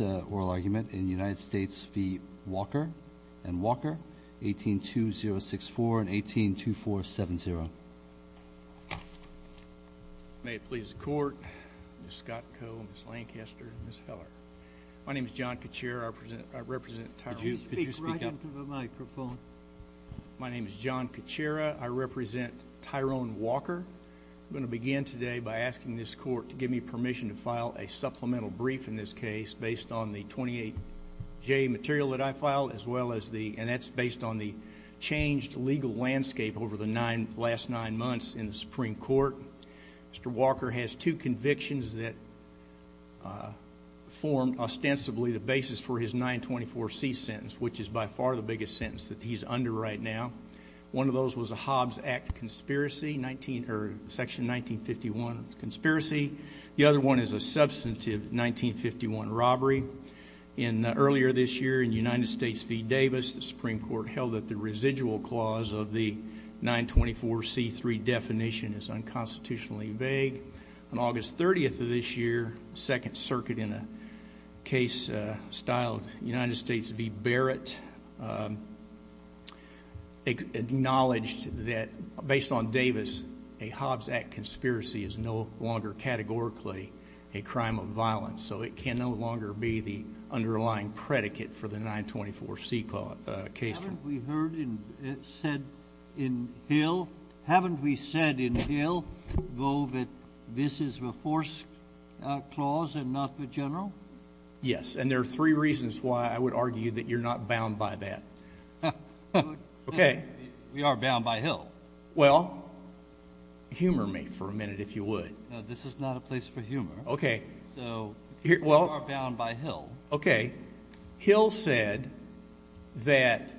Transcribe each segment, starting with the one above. and Walker, 18-2064 and 18-2470. May it please the Court, Ms. Scott Coe, Ms. Lancaster, and Ms. Heller. My name is John Caccera. I represent Tyrone Walker. Could you speak right into the microphone? My name is John Caccera. I represent Tyrone Walker. I'm going to begin today by asking this Court to give me permission to file a supplemental brief in this case based on the 28J material that I filed as well as the, and that's based on the changed legal landscape over the last nine months in the Supreme Court. Mr. Walker has two convictions that form ostensibly the basis for his 924C sentence, which is by far the biggest sentence that he's under right now. One of those was a Hobbs Act conspiracy, Section 1951 conspiracy. The other one is a substantive 1951 robbery. Earlier this year in the United States v. Davis, the Supreme Court held that the residual clause of the 924C3 definition is unconstitutionally vague. On August 30th of this year, the Second Circuit in a case styled United States v. Barrett acknowledged that based on Davis, a Hobbs Act conspiracy is no longer categorically a crime of violence, so it can no longer be the underlying predicate for the 924C case. Haven't we heard it said in Hill, haven't we said in Hill, though, that this is the force clause and not the general? Yes, and there are three reasons why I would argue that you're not bound by that. Okay. We are bound by Hill. Well, humor me for a minute, if you would. No, this is not a place for humor. Okay. So we are bound by Hill. Okay. Hill said that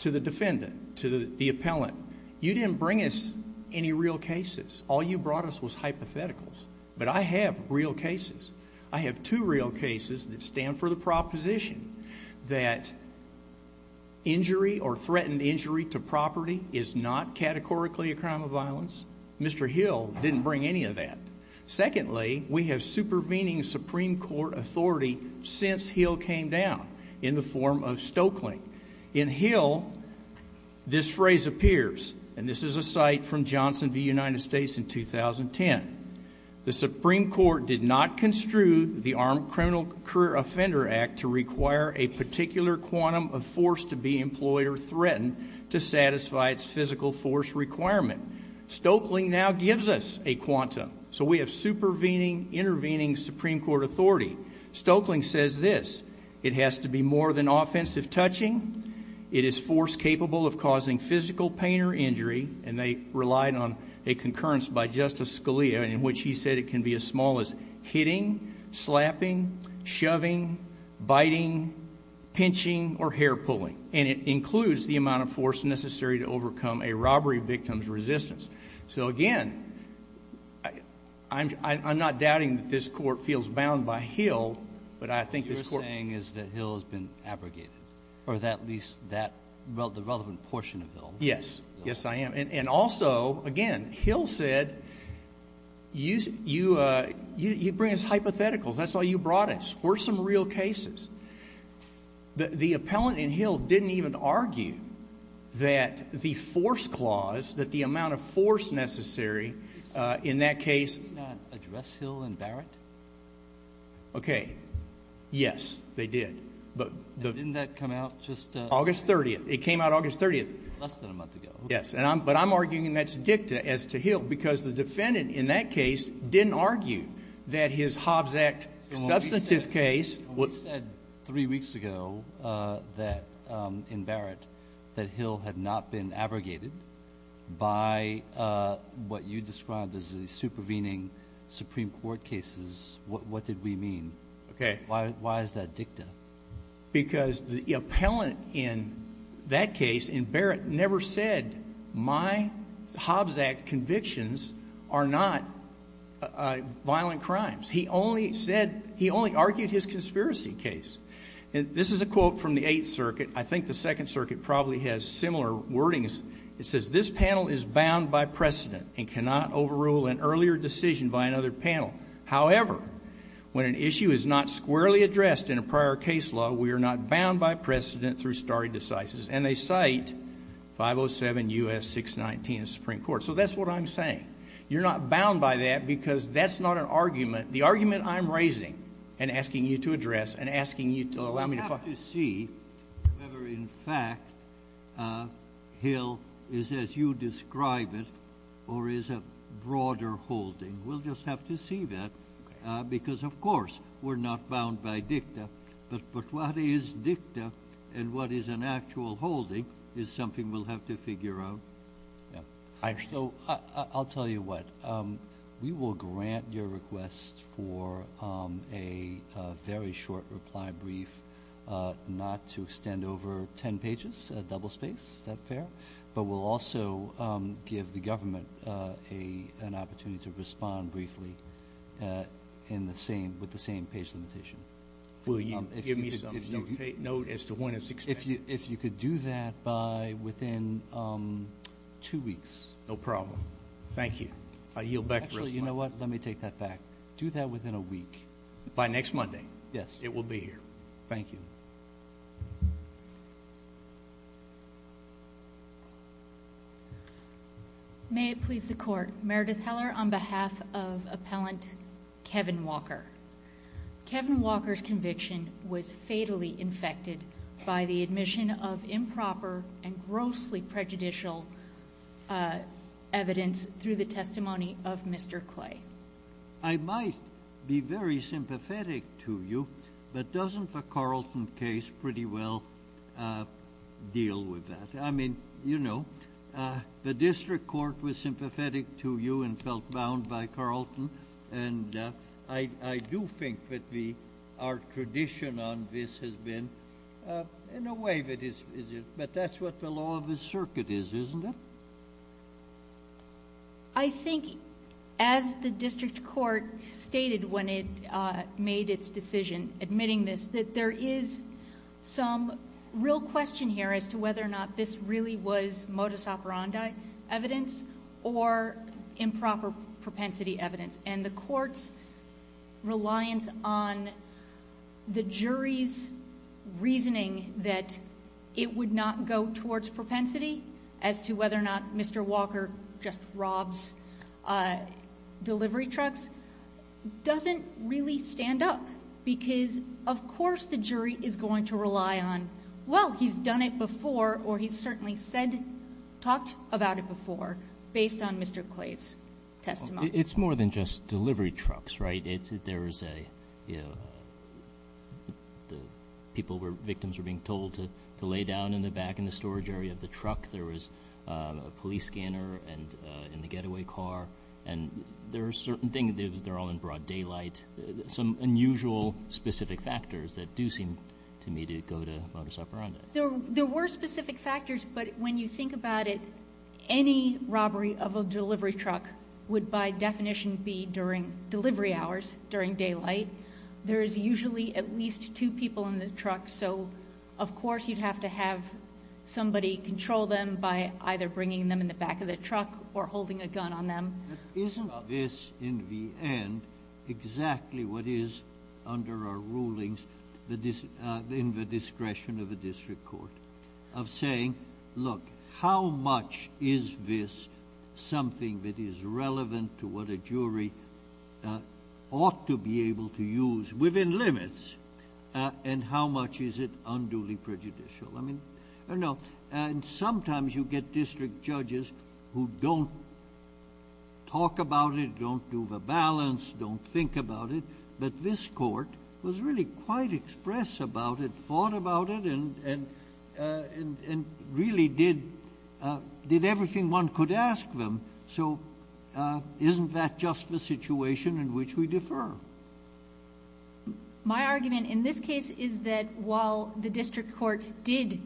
to the defendant, to the appellant, you didn't bring us any real cases. All you brought us was hypotheticals. But I have real cases. I have two real cases that stand for the proposition that injury or threatened injury to property is not categorically a crime of violence. Mr. Hill didn't bring any of that. Secondly, we have supervening Supreme Court authority since Hill came down in the form of Stoeckling. In Hill, this phrase appears, and this is a cite from Johnson v. United States in 2010. The Supreme Court did not construe the Armed Criminal Career Offender Act to require a particular quantum of force to be employed or threatened to satisfy its physical force requirement. Stoeckling now gives us a quantum. So we have supervening, intervening Supreme Court authority. Stoeckling says this. It has to be more than offensive touching. It is force capable of causing physical pain or injury, and they relied on a concurrence by Justice Scalia in which he said it can be as small as hitting, slapping, shoving, biting, pinching, or hair-pulling. And it includes the amount of force necessary to overcome a robbery victim's resistance. So, again, I'm not doubting that this Court feels bound by Hill, but I think this Court— At least the relevant portion of Hill. Yes. Yes, I am. And also, again, Hill said you bring us hypotheticals. That's why you brought us. We're some real cases. The appellant in Hill didn't even argue that the force clause, that the amount of force necessary in that case— Did he not address Hill and Barrett? Okay. Yes, they did. Didn't that come out just— August 30th. It came out August 30th. Less than a month ago. Yes, but I'm arguing that's dicta as to Hill because the defendant in that case didn't argue that his Hobbs Act substantive case— We said three weeks ago that, in Barrett, that Hill had not been abrogated by what you described as the supervening Supreme Court cases. What did we mean? Okay. Why is that dicta? Because the appellant in that case, in Barrett, never said my Hobbs Act convictions are not violent crimes. He only said—he only argued his conspiracy case. And this is a quote from the Eighth Circuit. I think the Second Circuit probably has similar wordings. It says, Because this panel is bound by precedent and cannot overrule an earlier decision by another panel. However, when an issue is not squarely addressed in a prior case law, we are not bound by precedent through stare decisis. And they cite 507 U.S. 619 of the Supreme Court. So that's what I'm saying. You're not bound by that because that's not an argument. The argument I'm raising and asking you to address and asking you to allow me to find— We'll have to see whether, in fact, Hill is as you describe it or is a broader holding. We'll just have to see that because, of course, we're not bound by dicta. But what is dicta and what is an actual holding is something we'll have to figure out. So I'll tell you what. We will grant your request for a very short reply brief not to extend over 10 pages, a double space. Is that fair? But we'll also give the government an opportunity to respond briefly with the same page limitation. Will you give me some note as to when it's extended? If you could do that by within two weeks. No problem. Thank you. I yield back the response. Actually, you know what? Let me take that back. Do that within a week. By next Monday. Yes. It will be here. Thank you. May it please the Court. Meredith Heller on behalf of Appellant Kevin Walker. Kevin Walker's conviction was fatally infected by the admission of improper and grossly prejudicial evidence through the testimony of Mr. Clay. I might be very sympathetic to you, but doesn't the Carlton case pretty well deal with that? I mean, you know, the district court was sympathetic to you and felt bound by Carlton. And I do think that our tradition on this has been, in a way, but that's what the law of the circuit is, isn't it? I think as the district court stated when it made its decision admitting this, that there is some real question here as to whether or not this really was modus operandi evidence or improper propensity evidence. And the court's reliance on the jury's reasoning that it would not go towards propensity as to whether or not Mr. Walker just robs delivery trucks, doesn't really stand up because, of course, the jury is going to rely on, well, he's done it before, or he's certainly said, talked about it before, based on Mr. Clay's testimony. It's more than just delivery trucks, right? There is a, you know, people were, victims were being told to lay down in the back in the storage area of the truck. There was a police scanner in the getaway car. And there are certain things, they're all in broad daylight, some unusual specific factors that do seem to me to go to modus operandi. There were specific factors, but when you think about it, any robbery of a delivery truck would, by definition, be during delivery hours, during daylight. There is usually at least two people in the truck, so of course you'd have to have somebody control them by either bringing them in the back of the truck or holding a gun on them. Isn't this, in the end, exactly what is under our rulings in the discretion of a district court, of saying, look, how much is this something that is relevant to what a jury ought to be able to use, within limits, and how much is it unduly prejudicial? I mean, I don't know. And sometimes you get district judges who don't talk about it, don't do the balance, don't think about it. But this court was really quite express about it, thought about it, and really did everything one could ask them. So isn't that just the situation in which we defer? My argument in this case is that while the district court did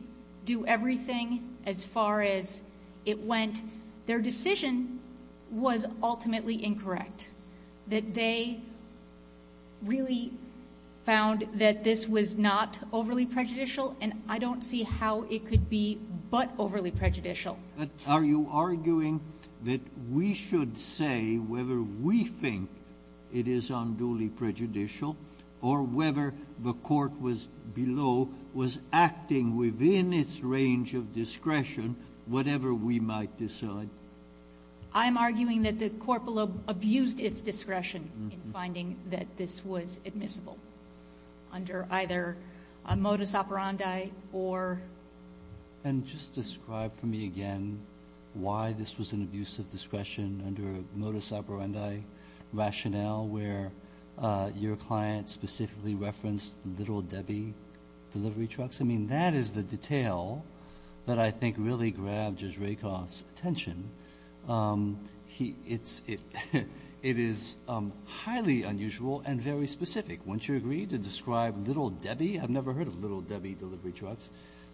do everything as far as it went, their decision was ultimately incorrect, that they really found that this was not overly prejudicial, and I don't see how it could be but overly prejudicial. But are you arguing that we should say whether we think it is unduly prejudicial or whether the court below was acting within its range of discretion, whatever we might decide? I'm arguing that the court below abused its discretion in finding that this was admissible, under either a modus operandi or... And just describe for me again why this was an abuse of discretion under a modus operandi rationale where your client specifically referenced Little Debbie delivery trucks? I mean, that is the detail that I think really grabbed Judge Rakoff's attention. It is highly unusual and very specific. Wouldn't you agree to describe Little Debbie? I've never heard of Little Debbie delivery trucks.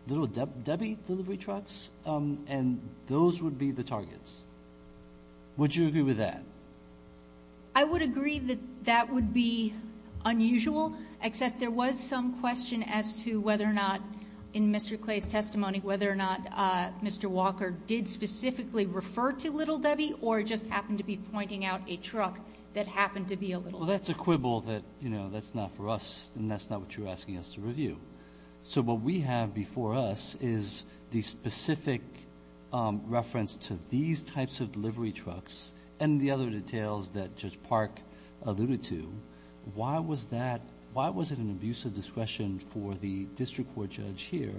Little Debbie delivery trucks? And those would be the targets. Would you agree with that? I would agree that that would be unusual, except there was some question as to whether or not, in Mr. Clay's testimony, whether or not Mr. Walker did specifically refer to Little Debbie or just happened to be pointing out a truck that happened to be a Little Debbie. Well, that's a quibble that, you know, that's not for us and that's not what you're asking us to review. So what we have before us is the specific reference to these types of delivery trucks and the other details that Judge Park alluded to. Why was that? Why was it an abuse of discretion for the district court judge here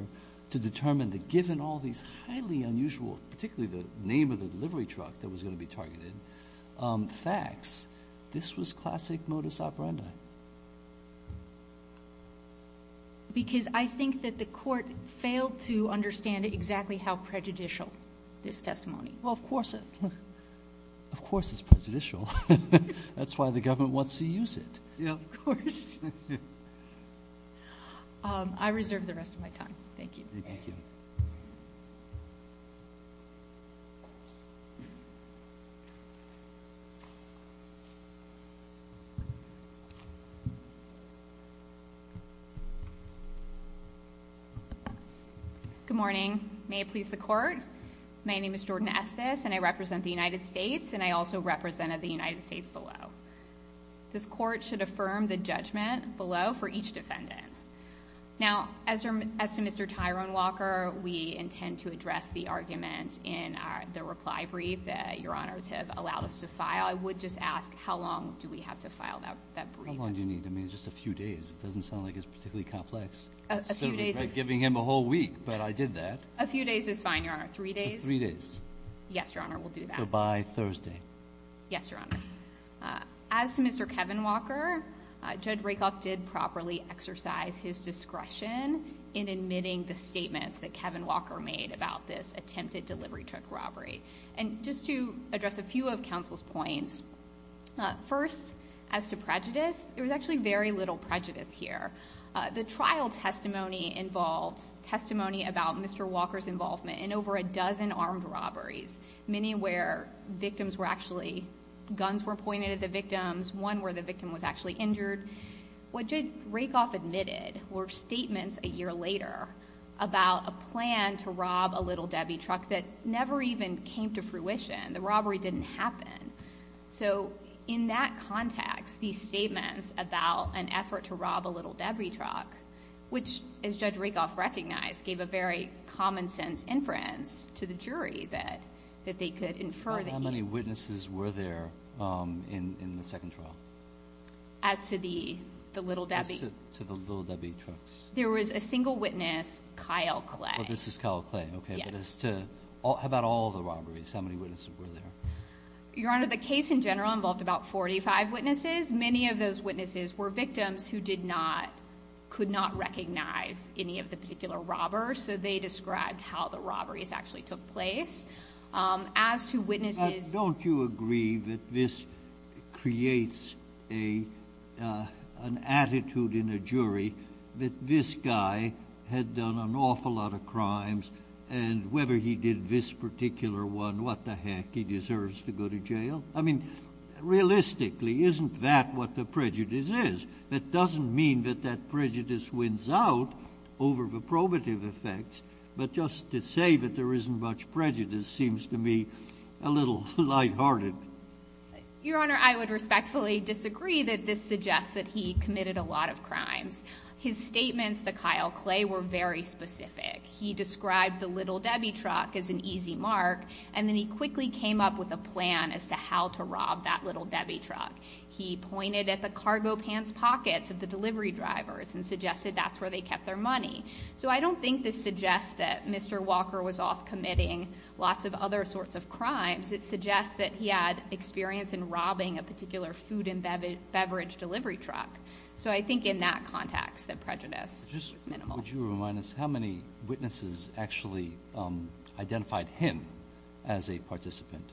to determine that, given all these highly unusual, particularly the name of the delivery truck that was going to be targeted, facts, this was classic modus operandi? Why? Because I think that the court failed to understand exactly how prejudicial this testimony. Well, of course it's prejudicial. That's why the government wants to use it. Of course. I reserve the rest of my time. Thank you. Thank you. Good morning. May it please the Court. My name is Jordan Estes and I represent the United States and I also represented the United States below. This court should affirm the judgment below for each defendant. Now, as to Mr. Tyrone Walker, we intend to address the argument in the reply brief that Your Honors have allowed us to file. I would just ask how long do we have to file that brief? How long do you need? I mean, just a few days. It doesn't sound like it's particularly complex. A few days is fine. Instead of giving him a whole week, but I did that. A few days is fine, Your Honor. Three days? Yes, Your Honor. We'll do that. So by Thursday. Yes, Your Honor. As to Mr. Kevin Walker, Judge Rakoff did properly exercise his discretion in admitting the statements that Kevin Walker made about this attempted delivery truck robbery. And just to address a few of counsel's points, first, as to prejudice, there was actually very little prejudice here. The trial testimony involved testimony about Mr. Walker's involvement in over a dozen armed robberies, many where victims were actually... guns were pointed at the victims, one where the victim was actually injured. What Judge Rakoff admitted were statements a year later about a plan to rob a Little Debbie truck that never even came to fruition. The robbery didn't happen. So in that context, these statements about an effort to rob a Little Debbie truck, which, as Judge Rakoff recognized, gave a very common sense inference to the jury that they could infer that... How many witnesses were there in the second trial? As to the Little Debbie? As to the Little Debbie trucks. There was a single witness, Kyle Clay. Oh, this is Kyle Clay. Okay. Yes. But as to... how about all the robberies? How many witnesses were there? Your Honor, the case in general involved about 45 witnesses. Many of those witnesses were victims who did not... So they described how the robberies actually took place. As to witnesses... But don't you agree that this creates an attitude in a jury that this guy had done an awful lot of crimes, and whether he did this particular one, what the heck, he deserves to go to jail? I mean, realistically, isn't that what the prejudice is? That doesn't mean that that prejudice wins out over the probative effects. But just to say that there isn't much prejudice seems to me a little lighthearted. Your Honor, I would respectfully disagree that this suggests that he committed a lot of crimes. His statements to Kyle Clay were very specific. He described the Little Debbie truck as an easy mark, and then he quickly came up with a plan as to how to rob that Little Debbie truck. He pointed at the cargo pants pockets of the delivery drivers and suggested that's where they kept their money. So I don't think this suggests that Mr. Walker was off committing lots of other sorts of crimes. It suggests that he had experience in robbing a particular food and beverage delivery truck. So I think in that context, the prejudice is minimal. Would you remind us how many witnesses actually identified him as a participant?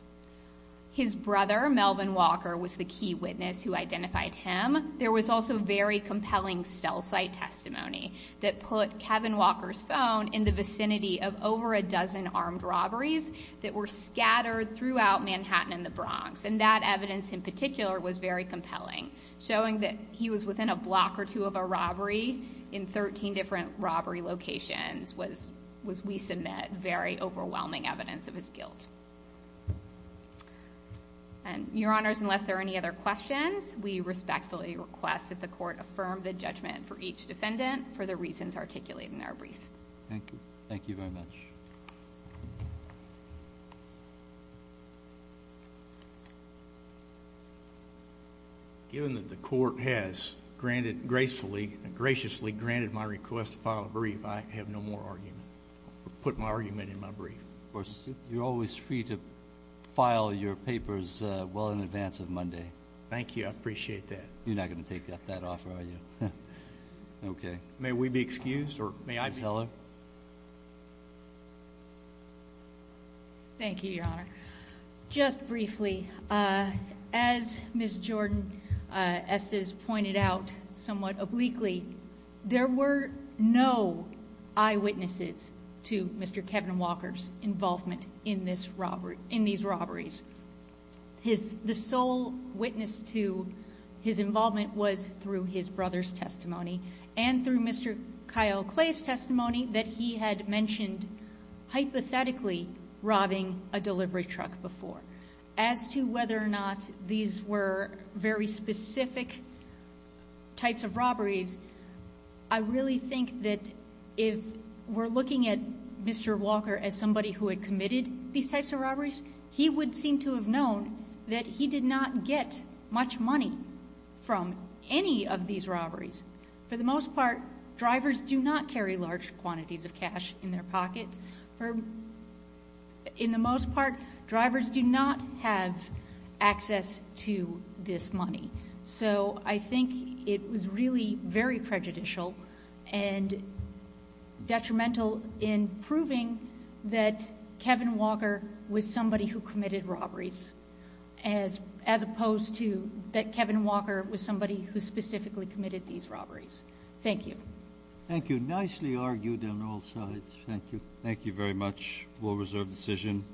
His brother, Melvin Walker, was the key witness who identified him. There was also very compelling cell site testimony that put Kevin Walker's phone in the vicinity of over a dozen armed robberies that were scattered throughout Manhattan and the Bronx. And that evidence in particular was very compelling, showing that he was within a block or two of a robbery in 13 different robbery locations, which we submit very overwhelming evidence of his guilt. Your Honors, unless there are any other questions, we respectfully request that the Court affirm the judgment for each defendant for the reasons articulated in our brief. Thank you. Thank you very much. Given that the Court has graciously granted my request to file a brief, I have no more argument. I'll put my argument in my brief. You're always free to file your papers well in advance of Monday. Thank you. I appreciate that. You're not going to take that offer, are you? May we be excused? Thank you, Your Honor. Just briefly, as Ms. Jordan pointed out somewhat obliquely, there were no eyewitnesses to Mr. Kevin Walker's involvement in these robberies. The sole witness to his involvement was through his brother's testimony and through Mr. Kyle Clay's testimony that he had mentioned hypothetically robbing a delivery truck before. As to whether or not these were very specific types of robberies, I really think that if we're looking at Mr. Walker as somebody who had committed these types of robberies, he would seem to have known that he did not get much money from any of these robberies. For the most part, drivers do not carry large quantities of cash in their pockets. For the most part, drivers do not have access to this money. So I think it was really very prejudicial and detrimental in proving that Kevin Walker was somebody who committed robberies as opposed to that Kevin Walker was somebody who specifically committed these robberies. Thank you. Thank you. Nicely argued on all sides. Thank you. Thank you very much. A well-reserved decision.